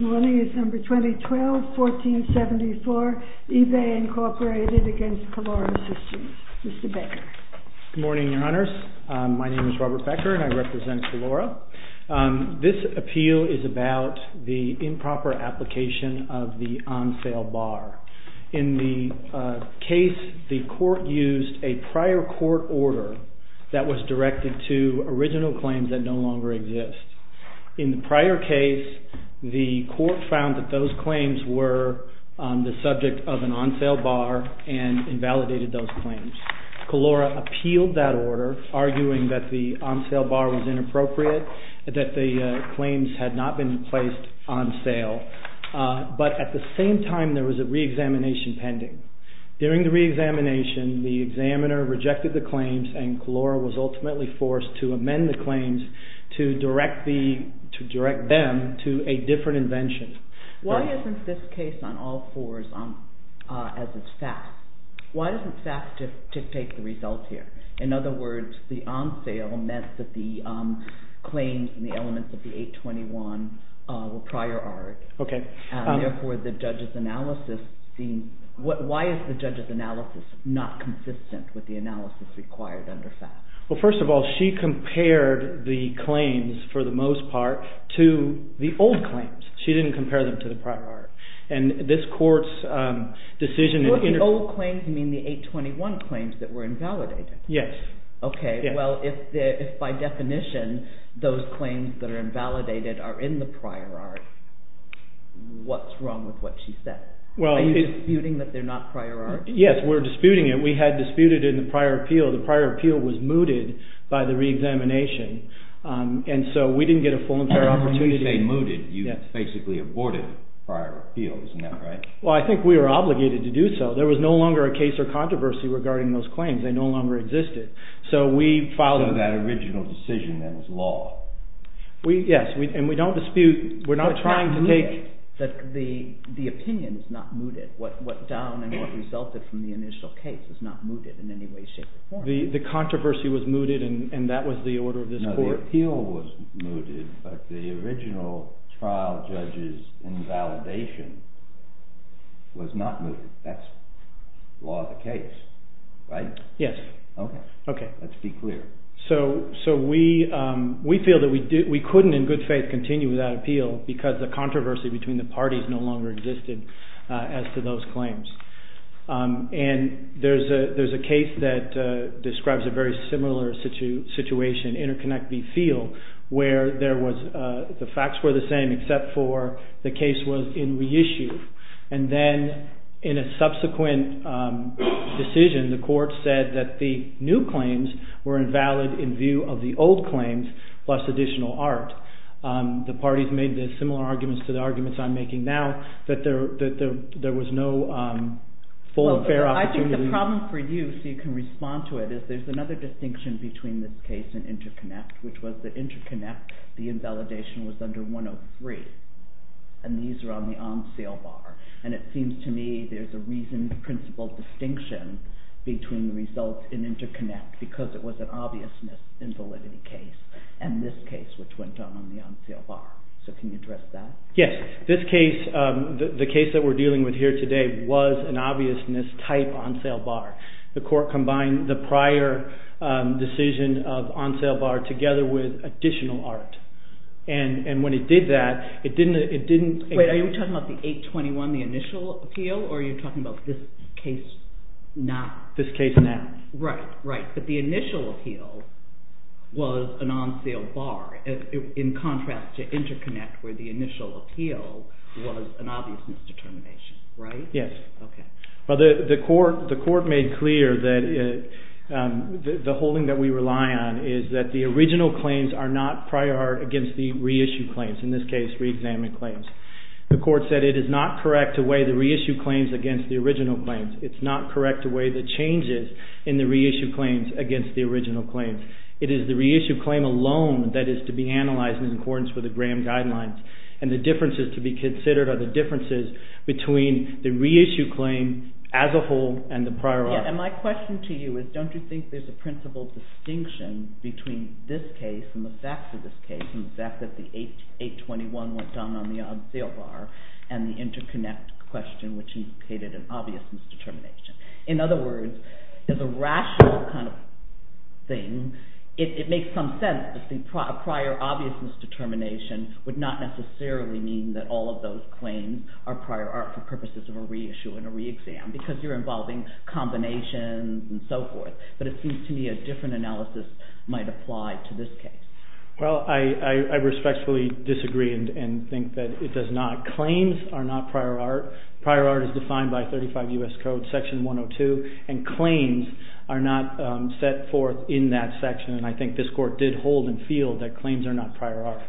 Good morning, December 2012, 1474, eBay, Inc. v. Kelora Systems. Mr. Baker. Good morning, Your Honors. My name is Robert Baker, and I represent Kelora. This appeal is about the improper application of the on-sale bar. In the case, the court used a prior court order that was directed to original claims that no longer exist. In the prior case, the court found that those claims were the subject of an on-sale bar and invalidated those claims. Kelora appealed that order, arguing that the on-sale bar was inappropriate, that the claims had not been placed on sale. But at the same time, there was a reexamination pending. During the reexamination, the examiner rejected the claims, and Kelora was ultimately forced to amend the claims to direct them to a different invention. Why isn't this case on all fours as it's faxed? Why isn't faxed to take the results here? In other words, the on-sale meant that the claims in the elements of the 821 were prior art. Therefore, why is the judge's analysis not consistent with the analysis required under fax? First of all, she compared the claims, for the most part, to the old claims. She didn't compare them to the prior art. The old claims mean the 821 claims that were invalidated? Yes. Okay. Well, if by definition, those claims that are invalidated are in the prior art, what's wrong with what she said? Are you disputing that they're not prior art? Yes, we're disputing it. We had disputed it in the prior appeal. The prior appeal was mooted by the reexamination, and so we didn't get a full and fair opportunity. When you say mooted, you basically aborted prior appeals, right? Well, I think we were obligated to do so. There was no longer a case or controversy regarding those claims. They no longer existed, so we filed them. So that original decision, then, was law? Yes, and we don't dispute—we're not trying to take— But not mooted. The opinion is not mooted. What down and what resulted from the initial case is not mooted in any way, shape, or form. The controversy was mooted, and that was the order of this court? No, the appeal was mooted, but the original trial judge's invalidation was not mooted. That's law of the case, right? Yes. Okay. Let's be clear. So we feel that we couldn't, in good faith, continue without appeal because the controversy between the parties no longer existed as to those claims. And there's a case that describes a very similar situation, interconnect B field, where the facts were the same except for the case was in reissue. And then in a subsequent decision, the court said that the new claims were invalid in view of the old claims plus additional art. The parties made similar arguments to the arguments I'm making now that there was no full and fair opportunity. I think the problem for you, so you can respond to it, is there's another distinction between this case and interconnect, which was that interconnect, the invalidation was under 103, and these are on the on-sale bar. And it seems to me there's a reasoned principle distinction between the results in interconnect because it was an obviousness invalidity case and this case, which went on the on-sale bar. So can you address that? Yes. This case, the case that we're dealing with here today, was an obviousness type on-sale bar. The court combined the prior decision of on-sale bar together with additional art. And when it did that, it didn't... Wait, are you talking about the 821, the initial appeal, or are you talking about this case now? This case now. Right, right. But the initial appeal was an on-sale bar, in contrast to interconnect where the initial appeal was an obviousness determination, right? Yes. Okay. Well, the court made clear that the holding that we rely on is that the original claims are not prior art against the reissued claims, in this case, reexamined claims. The court said it is not correct to weigh the reissued claims against the original claims. It's not correct to weigh the changes in the reissued claims against the original claims. It is the reissued claim alone that is to be analyzed in accordance with the Graham Guidelines. And the differences to be considered are the differences between the reissued claim as a whole and the prior art. And my question to you is, don't you think there's a principal distinction between this case and the facts of this case, and the fact that the 821 went down on the on-sale bar, and the interconnect question which indicated an obviousness determination? In other words, there's a rational kind of thing. It makes some sense to think prior obviousness determination would not necessarily mean that all of those claims are prior art for purposes of a reissue and a reexam, because you're involving combinations and so forth. But it seems to me a different analysis might apply to this case. Well, I respectfully disagree and think that it does not. Claims are not prior art. Prior art is defined by 35 U.S. Code Section 102, and claims are not set forth in that section. And I think this court did hold and feel that claims are not prior art.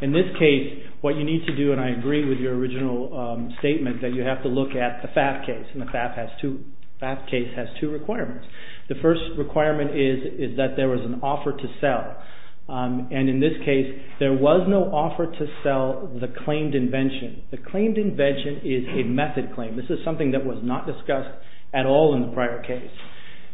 In this case, what you need to do, and I agree with your original statement, is that you have to look at the FAF case, and the FAF case has two requirements. The first requirement is that there was an offer to sell, and in this case there was no offer to sell the claimed invention. The claimed invention is a method claim. This is something that was not discussed at all in the prior case.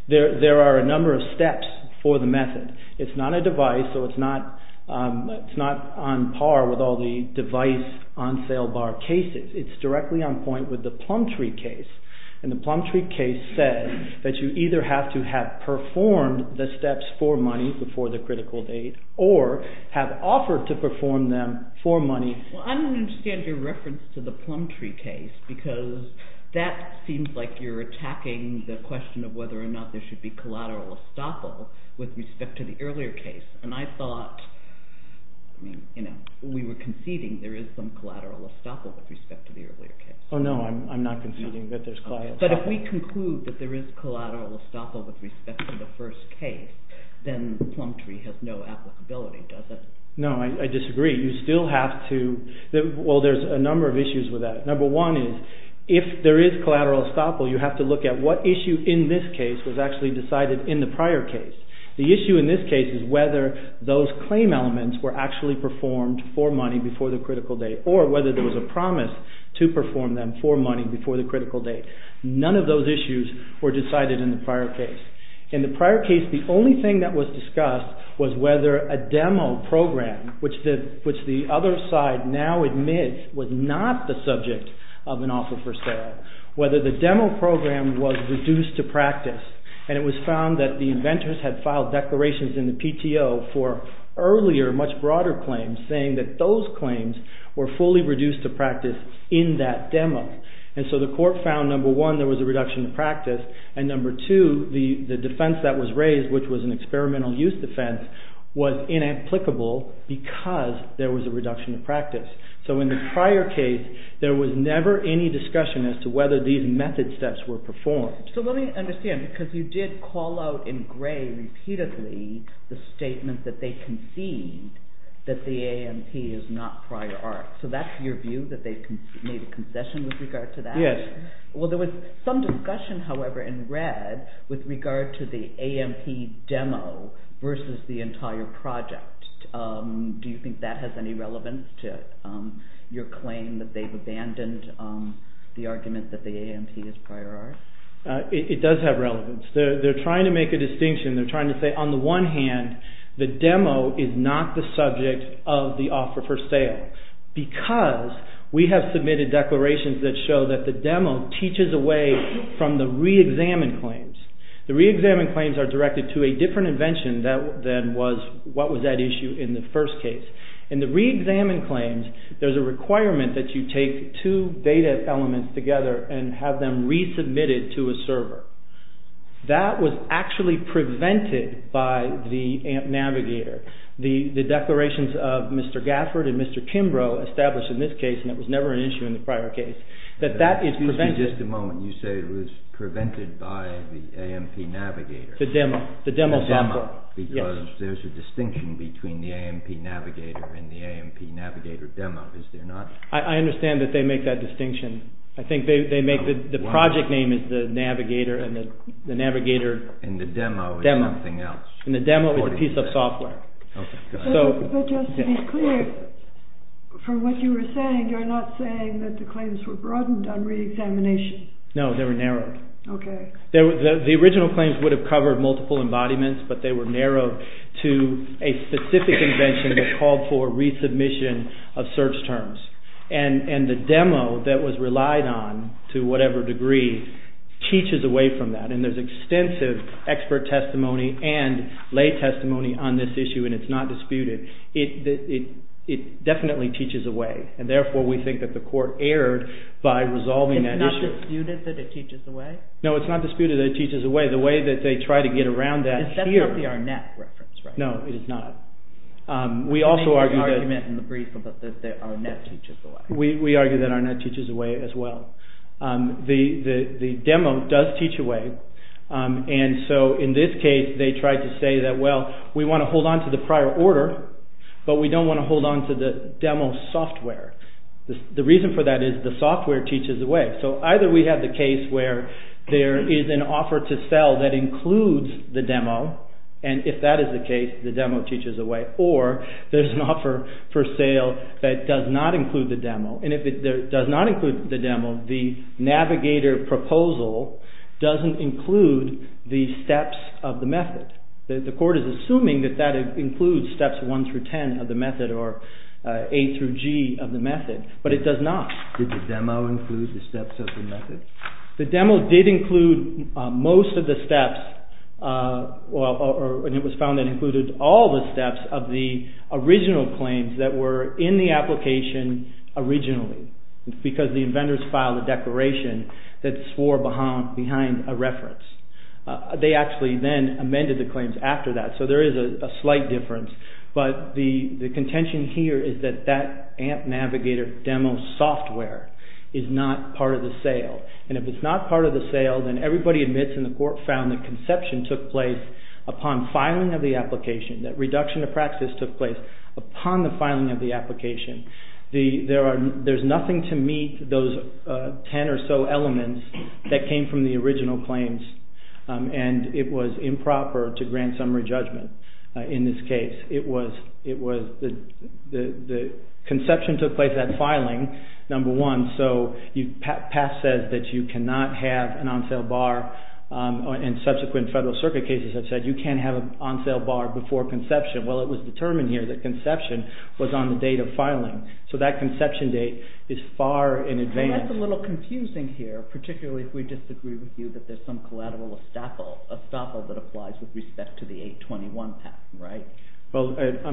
There are a number of steps for the method. It's not a device, so it's not on par with all the device on-sale bar cases. It's directly on point with the Plumtree case, and the Plumtree case said that you either have to have performed the steps for money before the critical date or have offered to perform them for money. Well, I don't understand your reference to the Plumtree case because that seems like you're attacking the question of whether or not there should be collateral estoppel with respect to the earlier case. And I thought, you know, we were conceding there is some collateral estoppel with respect to the earlier case. Oh, no, I'm not conceding that there's collateral estoppel. But if we conclude that there is collateral estoppel with respect to the first case, then Plumtree has no applicability, does it? No, I disagree. You still have to, well, there's a number of issues with that. Number one is if there is collateral estoppel, you have to look at what issue in this case was actually decided in the prior case. The issue in this case is whether those claim elements were actually performed for money before the critical date or whether there was a promise to perform them for money before the critical date. None of those issues were decided in the prior case. In the prior case, the only thing that was discussed was whether a demo program, which the other side now admits was not the subject of an offer for sale, whether the demo program was reduced to practice, and it was found that the inventors had filed declarations in the PTO for earlier, much broader claims, saying that those claims were fully reduced to practice in that demo. And so the court found, number one, there was a reduction in practice, and number two, the defense that was raised, which was an experimental use defense, was inapplicable because there was a reduction in practice. So in the prior case, there was never any discussion as to whether these method steps were performed. So let me understand, because you did call out in gray repeatedly the statement that they concede that the AMP is not prior art. So that's your view, that they've made a concession with regard to that? Yes. Well, there was some discussion, however, in red with regard to the AMP demo versus the entire project. Do you think that has any relevance to your claim that they've abandoned the argument that the AMP is prior art? It does have relevance. They're trying to make a distinction. They're trying to say, on the one hand, the demo is not the subject of the offer for sale because we have submitted declarations that show that the demo teaches away from the reexamined claims. The reexamined claims are directed to a different invention than was what was at issue in the first case. In the reexamined claims, there's a requirement that you take two data elements together and have them resubmitted to a server. That was actually prevented by the AMP navigator. The declarations of Mr. Gafford and Mr. Kimbrough established in this case, and it was never an issue in the prior case, that that is prevented. Excuse me just a moment. You say it was prevented by the AMP navigator. The demo software. Because there's a distinction between the AMP navigator and the AMP navigator demo, is there not? I understand that they make that distinction. I think they make the project name is the navigator and the navigator demo is a piece of software. But just to be clear, from what you were saying, you're not saying that the claims were broadened on reexamination. No, they were narrowed. The original claims would have covered multiple embodiments, but they were narrowed to a specific invention that called for resubmission of search terms. And the demo that was relied on, to whatever degree, teaches away from that. And there's extensive expert testimony and lay testimony on this issue, and it's not disputed. It definitely teaches away, and therefore we think that the court erred by resolving that issue. It's not disputed that it teaches away? No, it's not disputed that it teaches away. The way that they try to get around that here... That's not the Arnett reference, right? No, it is not. We also argue that... There may be an argument in the brief that Arnett teaches away. We argue that Arnett teaches away as well. The demo does teach away, and so in this case they tried to say that, well, we want to hold on to the prior order, but we don't want to hold on to the demo software. The reason for that is the software teaches away. So either we have the case where there is an offer to sell that includes the demo, and if that is the case, the demo teaches away, or there's an offer for sale that does not include the demo, and if it does not include the demo, the navigator proposal doesn't include the steps of the method. The court is assuming that that includes steps 1 through 10 of the method or A through G of the method, but it does not. Did the demo include the steps of the method? The demo did include most of the steps, and it was found that it included all the steps of the original claims that were in the application originally, because the inventors filed a declaration that swore behind a reference. They actually then amended the claims after that, so there is a slight difference, but the contention here is that that AMP navigator demo software is not part of the sale, and if it's not part of the sale, then everybody admits in the court found that conception took place upon filing of the application, that reduction of practice took place upon the filing of the application. There's nothing to meet those 10 or so elements that came from the original claims, and it was improper to grant summary judgment in this case. The conception took place at filing, number one, so PASS says that you cannot have an on-sale bar, and subsequent Federal Circuit cases have said you can't have an on-sale bar before conception. Well, it was determined here that conception was on the date of filing, so that conception date is far in advance. That's a little confusing here, particularly if we disagree with you that there's some collateral estoppel that applies with respect to the 821 PASS, right? Well, it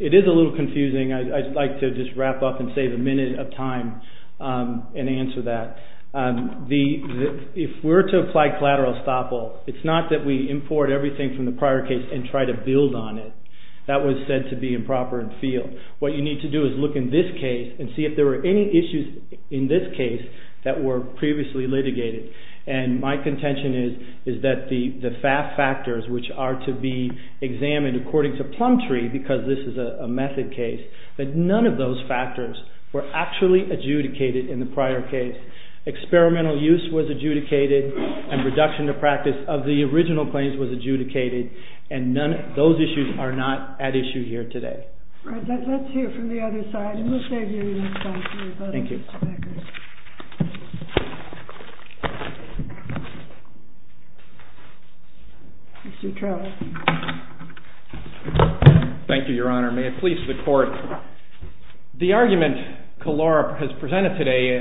is a little confusing. I'd like to just wrap up and save a minute of time and answer that. If we're to apply collateral estoppel, it's not that we import everything from the prior case and try to build on it. That was said to be improper in field. What you need to do is look in this case and see if there were any issues in this case that were previously litigated. My contention is that the FAF factors, which are to be examined according to plum tree because this is a method case, that none of those factors were actually adjudicated in the prior case. Experimental use was adjudicated, and reduction to practice of the original claims was adjudicated, and those issues are not at issue here today. All right, let's hear from the other side, and we'll save you a minute. Thank you. Thank you, Your Honor. May it please the Court. The argument Kalora has presented today,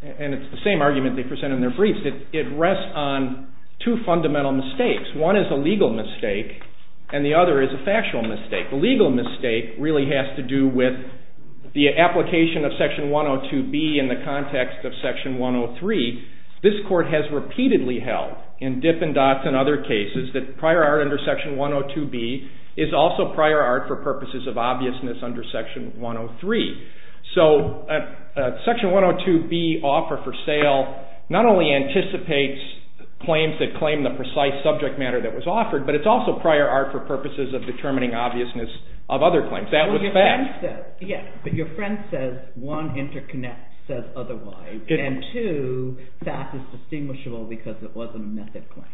and it's the same argument they present in their briefs, it rests on two fundamental mistakes. One is a legal mistake, and the other is a factual mistake. The legal mistake really has to do with the application of Section 102B in the context of Section 103. This Court has repeatedly held, in Dipp and Dotz and other cases, that prior art under Section 102B is also prior art for purposes of obviousness under Section 103. So Section 102B offer for sale not only anticipates claims that claim the precise subject matter that was offered, but it's also prior art for purposes of determining obviousness of other claims. That was fact. Yes, but your friend says, one, interconnect says otherwise, and two, fact is distinguishable because it wasn't a method claim.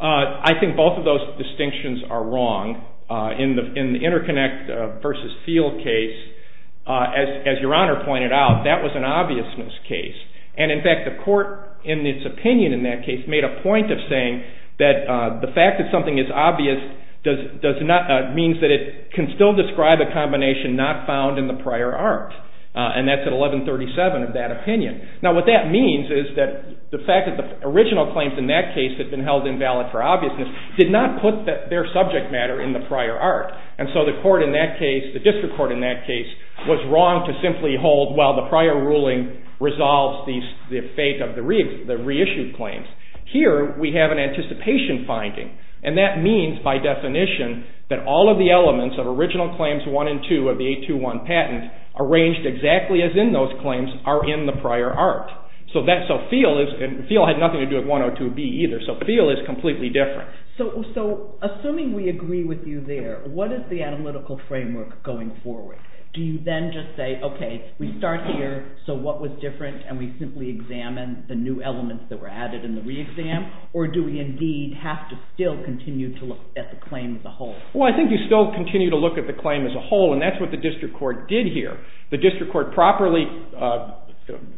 I think both of those distinctions are wrong. In the interconnect versus field case, as Your Honor pointed out, that was an obviousness case. And in fact, the Court, in its opinion in that case, made a point of saying that the fact that something is obvious means that it can still describe a combination not found in the prior art. And that's at 1137 of that opinion. Now what that means is that the fact that the original claims in that case had been held invalid for obviousness did not put their subject matter in the prior art. And so the District Court in that case was wrong to simply hold, well, the prior ruling resolves the fate of the reissued claims. Here we have an anticipation finding, and that means by definition that all of the elements of original claims 1 and 2 of the 821 patent arranged exactly as in those claims are in the prior art. So field had nothing to do with 102B either, so field is completely different. So assuming we agree with you there, what is the analytical framework going forward? Do you then just say, okay, we start here, so what was different, and we simply examine the new elements that were added in the re-exam, or do we indeed have to still continue to look at the claim as a whole? Well, I think you still continue to look at the claim as a whole, and that's what the District Court did here. The District Court properly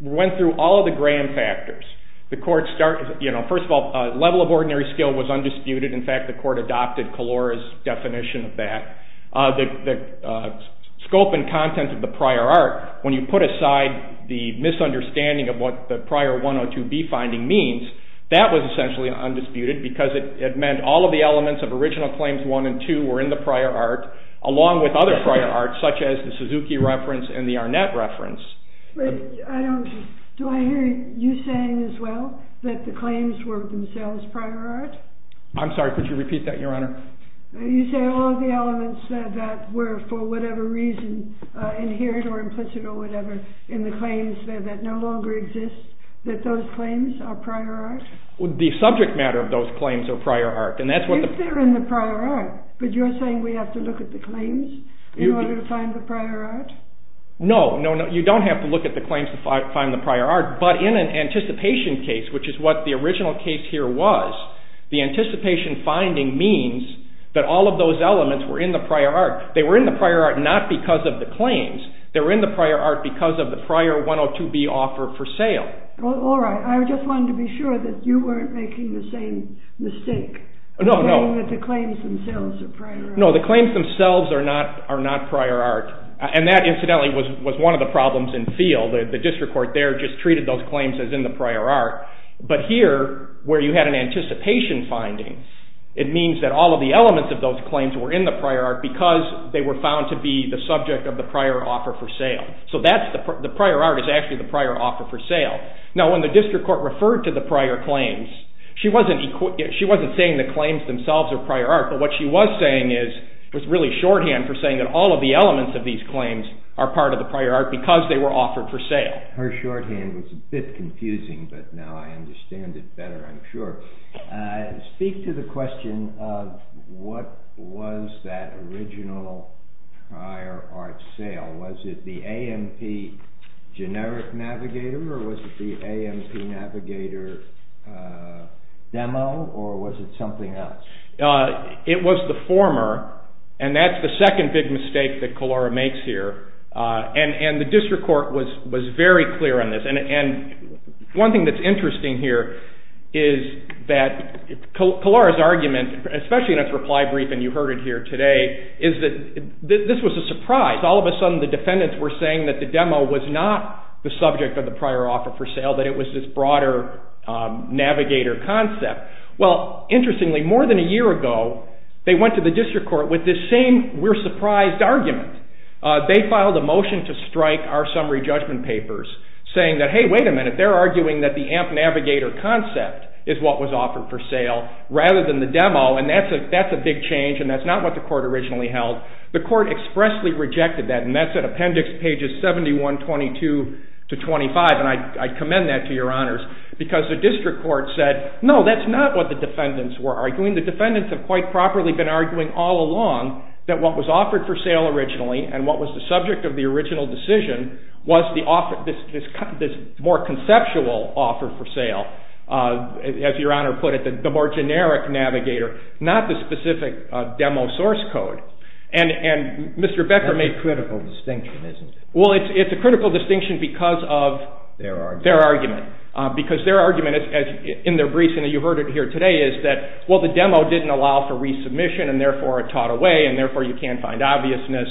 went through all of the grand factors. The Court started, you know, first of all, level of ordinary skill was undisputed. In fact, the Court adopted Kalora's definition of that. The scope and content of the prior art, when you put aside the misunderstanding of what the prior 102B finding means, that was essentially undisputed because it meant all of the elements of original claims 1 and 2 were in the prior art along with other prior arts such as the Suzuki reference and the Arnett reference. Do I hear you saying as well that the claims were themselves prior art? I'm sorry, could you repeat that, Your Honor? You're saying all of the elements that were, for whatever reason, inherent or implicit or whatever in the claims there that no longer exist, that those claims are prior art? The subject matter of those claims are prior art. If they're in the prior art, but you're saying we have to look at the claims in order to find the prior art? No, you don't have to look at the claims to find the prior art, but in an anticipation case, which is what the original case here was, the anticipation finding means that all of those elements were in the prior art. They were in the prior art not because of the claims. They were in the prior art because of the prior 102B offer for sale. All right. I just wanted to be sure that you weren't making the same mistake in saying that the claims themselves are prior art. No, the claims themselves are not prior art, and that incidentally was one of the problems in the field. The district court there just treated those claims as in the prior art, but here where you had an anticipation finding, it means that all of the elements of those claims were in the prior art because they were found to be the subject of the prior offer for sale. So the prior art is actually the prior offer for sale. Now, when the district court referred to the prior claims, she wasn't saying the claims themselves are prior art, but what she was saying was really shorthand for saying that all of the elements of these claims are part of the prior art because they were offered for sale. Her shorthand was a bit confusing, but now I understand it better, I'm sure. Speak to the question of what was that original prior art sale. Was it the AMP generic navigator, or was it the AMP navigator demo, or was it something else? It was the former, and that's the second big mistake that Kalora makes here. The district court was very clear on this. One thing that's interesting here is that Kalora's argument, especially in its reply briefing you heard it here today, is that this was a surprise. All of a sudden the defendants were saying that the demo was not the subject of the prior offer for sale, that it was this broader navigator concept. Interestingly, more than a year ago, they went to the district court with this same we're surprised argument. They filed a motion to strike our summary judgment papers, saying that, hey, wait a minute, they're arguing that the AMP navigator concept is what was offered for sale rather than the demo, and that's a big change, and that's not what the court originally held. The court expressly rejected that, and that's at appendix pages 71, 22 to 25, and I commend that to your honors because the district court said, no, that's not what the defendants were arguing. The defendants have quite properly been arguing all along that what was offered for sale originally and what was the subject of the original decision was this more conceptual offer for sale, as your honor put it, the more generic navigator, not the specific demo source code. That's a critical distinction, isn't it? Well, it's a critical distinction because of their argument, because their argument in their briefing that you heard it here today is that, well, the demo didn't allow for resubmission and, therefore, it taught away, and, therefore, you can't find obviousness,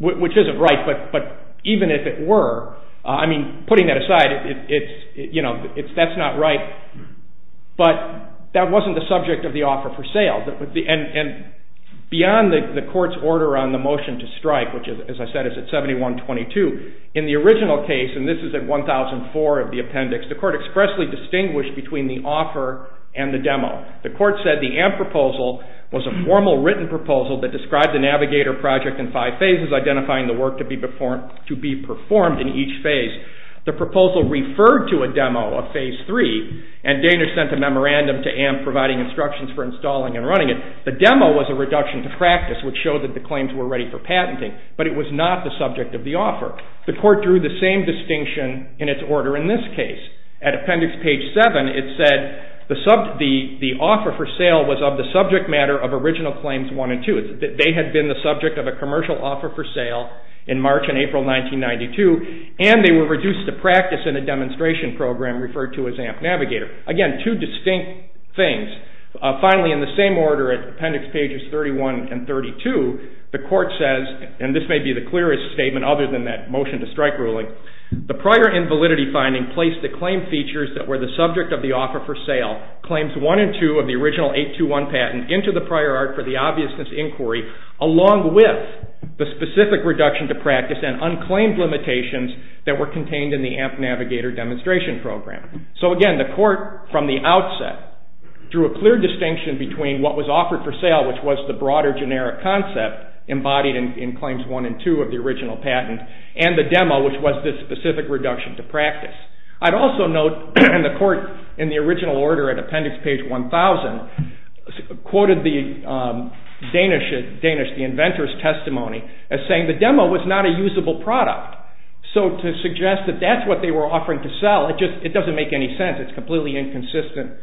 which isn't right, but even if it were, I mean, putting that aside, that's not right, but that wasn't the subject of the offer for sale, and beyond the court's order on the motion to strike, which, as I said, is at 71, 22, in the original case, and this is at 1004 of the appendix, the court expressly distinguished between the offer and the demo. The court said the AMP proposal was a formal written proposal that described the navigator project in five phases, identifying the work to be performed in each phase. The proposal referred to a demo, a phase three, and Daner sent a memorandum to AMP providing instructions for installing and running it. The demo was a reduction to practice, which showed that the claims were ready for patenting, but it was not the subject of the offer. The court drew the same distinction in its order in this case. At appendix page 7, it said the offer for sale was of the subject matter of original claims 1 and 2. They had been the subject of a commercial offer for sale in March and April 1992, and they were reduced to practice in a demonstration program referred to as AMP Navigator. Again, two distinct things. Finally, in the same order at appendix pages 31 and 32, the court says, and this may be the clearest statement other than that motion to strike ruling, the prior invalidity finding placed the claim features that were the subject of the offer for sale, claims 1 and 2 of the original 821 patent, into the prior art for the obviousness inquiry, along with the specific reduction to practice and unclaimed limitations that were contained in the AMP Navigator demonstration program. So again, the court, from the outset, drew a clear distinction between what was offered for sale, which was the broader generic concept embodied in claims 1 and 2 of the original patent, and the demo, which was this specific reduction to practice. I'd also note, and the court, in the original order at appendix page 1,000, quoted the Danish, the inventor's testimony as saying the demo was not a usable product. So to suggest that that's what they were offering to sell, it doesn't make any sense. It's completely inconsistent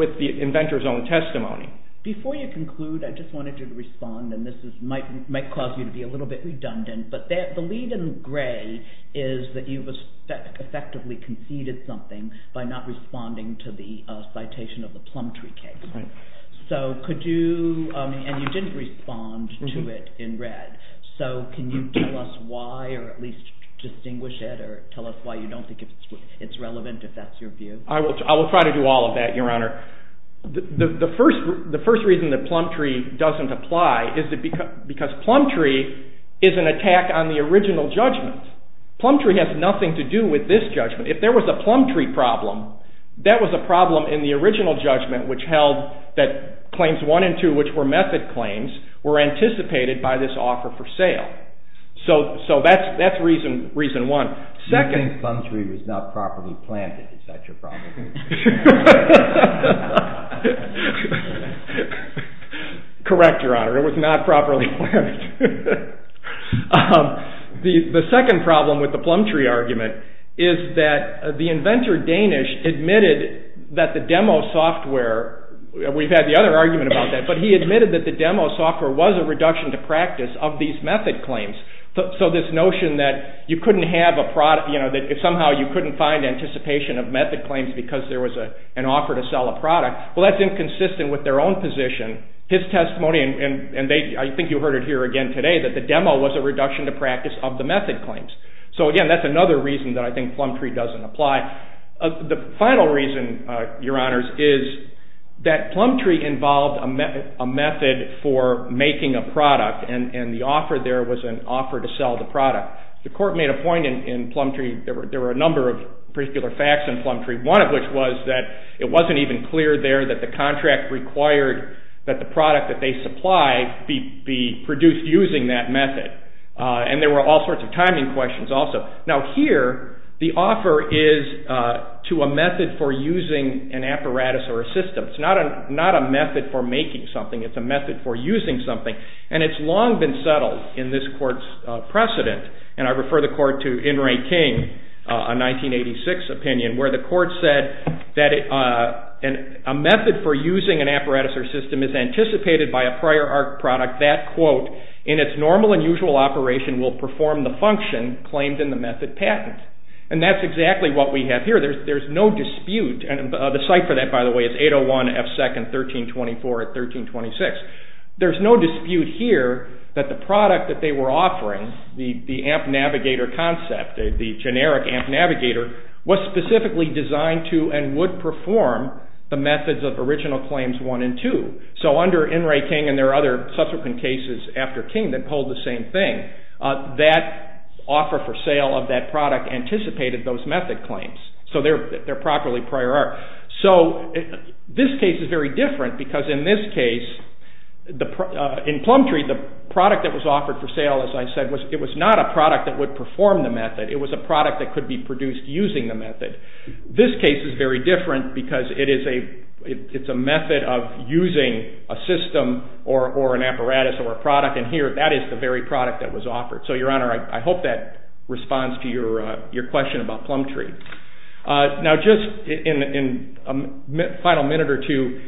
with the inventor's own testimony. Before you conclude, I just wanted you to respond, and this might cause you to be a little bit redundant, but the lead in gray is that you've effectively conceded something by not responding to the citation of the Plumtree case. So could you, and you didn't respond to it in red, so can you tell us why, or at least distinguish it, or tell us why you don't think it's relevant, if that's your view? I will try to do all of that, Your Honor. The first reason that Plumtree doesn't apply is because Plumtree is an attack on the original judgment. Plumtree has nothing to do with this judgment. If there was a Plumtree problem, that was a problem in the original judgment which held that claims one and two, which were method claims, were anticipated by this offer for sale. So that's reason one. You think Plumtree was not properly planted. Is that your problem? Correct, Your Honor. It was not properly planted. The second problem with the Plumtree argument is that the inventor, Danish, admitted that the demo software, we've had the other argument about that, but he admitted that the demo software was a reduction to practice of these method claims. So this notion that somehow you couldn't find anticipation of method claims because there was an offer to sell a product, well, that's inconsistent with their own position. His testimony, and I think you heard it here again today, that the demo was a reduction to practice of the method claims. So again, that's another reason that I think Plumtree doesn't apply. The final reason, Your Honors, is that Plumtree involved a method for making a product and the offer there was an offer to sell the product. The court made a point in Plumtree, there were a number of particular facts in Plumtree. One of which was that it wasn't even clear there that the contract required that the product that they supply be produced using that method. And there were all sorts of timing questions also. Now here, the offer is to a method for using an apparatus or a system. It's not a method for making something. It's a method for using something. And it's long been settled in this court's precedent, and I refer the court to N. Ray King, a 1986 opinion, where the court said that a method for using an apparatus or system is anticipated by a prior ARC product. That quote, in its normal and usual operation, will perform the function claimed in the method patent. And that's exactly what we have here. There's no dispute, and the site for that, by the way, is 801 F 2nd 1324 at 1326. There's no dispute here that the product that they were offering, the AMP Navigator concept, the generic AMP Navigator, was specifically designed to and would perform the methods of original claims 1 and 2. So under N. Ray King, and there are other subsequent cases after King that polled the same thing, that offer for sale of that product anticipated those method claims. So they're properly prior ARC. So this case is very different because in this case, in Plumtree, the product that was offered for sale, as I said, it was not a product that would perform the method. It was a product that could be produced using the method. This case is very different because it's a method of using a system or an apparatus or a product, and here that is the very product that was offered. So, Your Honor, I hope that responds to your question about Plumtree. Now just in a final minute or two,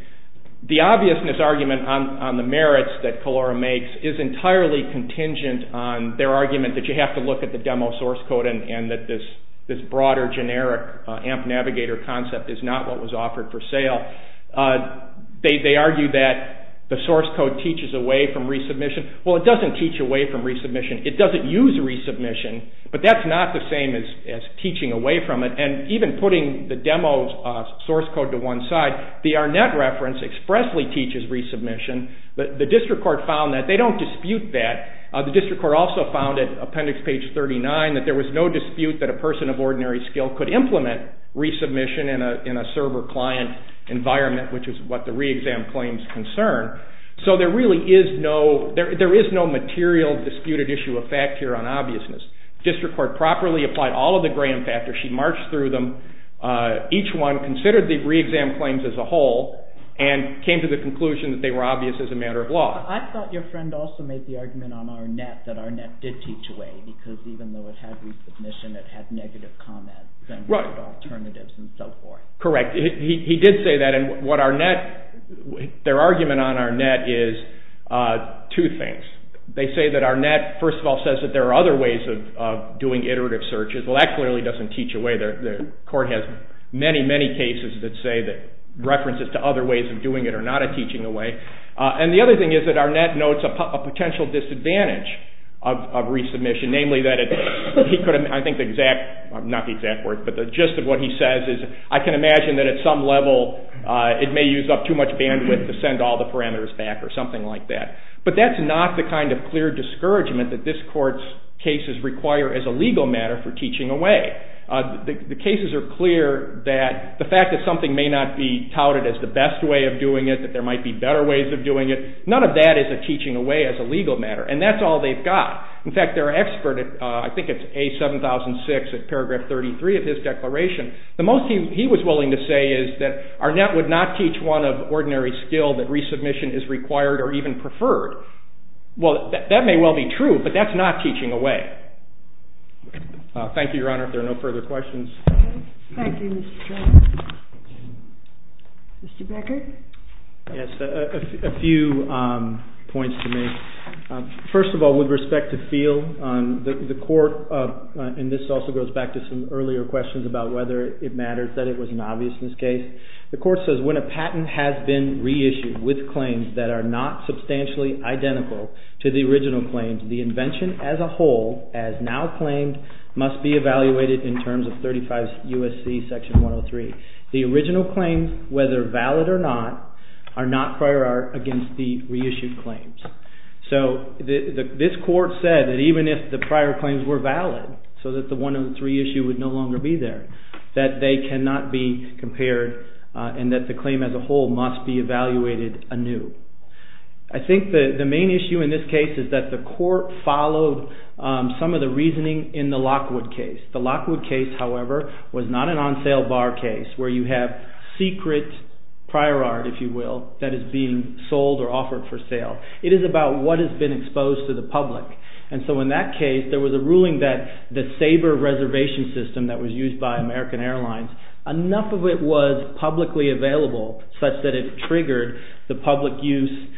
the obviousness argument on the merits that Calora makes is entirely contingent on their argument that you have to look at the demo source code and that this broader generic AMP Navigator concept is not what was offered for sale. They argue that the source code teaches away from resubmission. Well, it doesn't teach away from resubmission. It doesn't use resubmission, but that's not the same as teaching away from it. And even putting the demo's source code to one side, the Arnett reference expressly teaches resubmission. The district court found that. They don't dispute that. The district court also found at appendix page 39 that there was no dispute that a person of ordinary skill could implement resubmission in a server-client environment, which is what the re-exam claims concern. So there really is no material disputed issue of fact here on obviousness. The district court properly applied all of the Graham factors. She marched through them, each one considered the re-exam claims as a whole, and came to the conclusion that they were obvious as a matter of law. I thought your friend also made the argument on Arnett that Arnett did teach away, because even though it had resubmission, it had negative comments and alternatives and so forth. Correct. He did say that. Their argument on Arnett is two things. They say that Arnett, first of all, says that there are other ways of doing iterative searches. Well, that clearly doesn't teach away. The court has many, many cases that say that references to other ways of doing it are not a teaching away. And the other thing is that Arnett notes a potential disadvantage of resubmission, namely that I think the gist of what he says is I can imagine that at some level it may use up too much bandwidth to send all the parameters back or something like that. But that's not the kind of clear discouragement that this court's cases require as a legal matter for teaching away. The cases are clear that the fact that something may not be touted as the best way of doing it, that there might be better ways of doing it, none of that is a teaching away as a legal matter. And that's all they've got. In fact, their expert, I think it's A7006 at paragraph 33 of his declaration, the most he was willing to say is that Arnett would not teach one of ordinary skill that resubmission is required or even preferred. Well, that may well be true, but that's not teaching away. Thank you, Your Honor. If there are no further questions. Thank you, Mr. Strunk. Mr. Becker? Yes, a few points to make. First of all, with respect to feel, the court, and this also goes back to some earlier questions about whether it matters that it was an obviousness case. The court says when a patent has been reissued with claims that are not substantially identical to the original claims, the invention as a whole, as now claimed, must be evaluated in terms of 35 U.S.C. section 103. The original claims, whether valid or not, are not prior art against the reissued claims. So this court said that even if the prior claims were valid, so that the 103 issue would no longer be there, that they cannot be compared and that the claim as a whole must be evaluated anew. I think the main issue in this case is that the court followed some of the reasoning in the Lockwood case. The Lockwood case, however, was not an on-sale bar case where you have secret prior art, if you will, that is being sold or offered for sale. It is about what has been exposed to the public. And so in that case, there was a ruling that the Sabre reservation system that was used by American Airlines, enough of it was publicly available such that it triggered the public use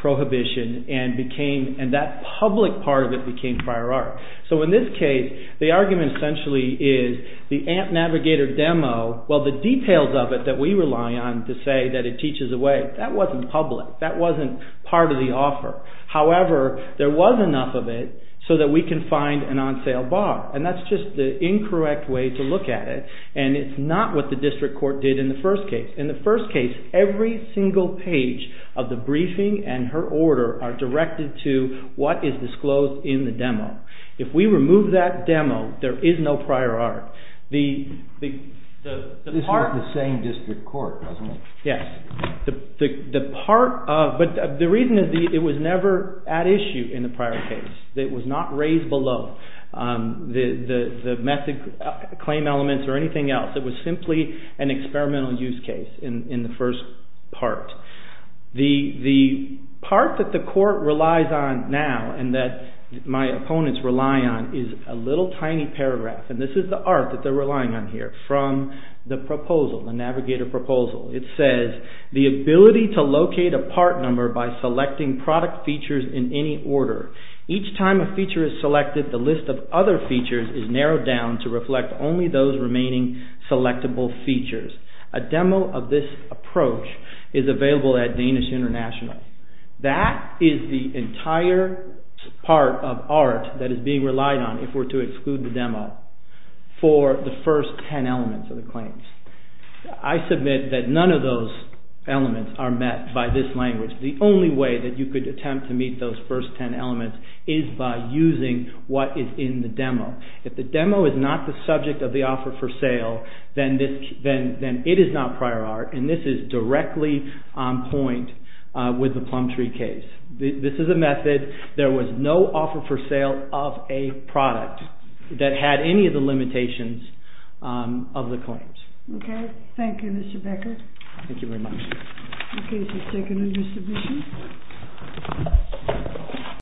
prohibition and that public part of it became prior art. So in this case, the argument essentially is the AMP Navigator demo, well the details of it that we rely on to say that it teaches away, that wasn't public. That wasn't part of the offer. However, there was enough of it so that we can find an on-sale bar. And that's just the incorrect way to look at it. And it's not what the district court did in the first case. In the first case, every single page of the briefing and her order are directed to what is disclosed in the demo. If we remove that demo, there is no prior art. This is not the same district court, is it? Yes. But the reason is it was never at issue in the prior case. It was not raised below the method claim elements or anything else. It was simply an experimental use case in the first part. The part that the court relies on now and that my opponents rely on is a little tiny paragraph. And this is the art that they are relying on here from the proposal, the Navigator proposal. It says, The ability to locate a part number by selecting product features in any order. Each time a feature is selected, the list of other features is narrowed down to reflect only those remaining selectable features. A demo of this approach is available at Danish International. That is the entire part of art that is being relied on, if we are to exclude the demo, for the first ten elements of the claims. I submit that none of those elements are met by this language. The only way that you could attempt to meet those first ten elements is by using what is in the demo. If the demo is not the subject of the offer for sale, then it is not prior art, and this is directly on point with the Plum Tree case. This is a method. There was no offer for sale of a product that had any of the limitations of the claims. Okay. Thank you, Mr. Becker. Thank you very much. Okay, so let's take another submission.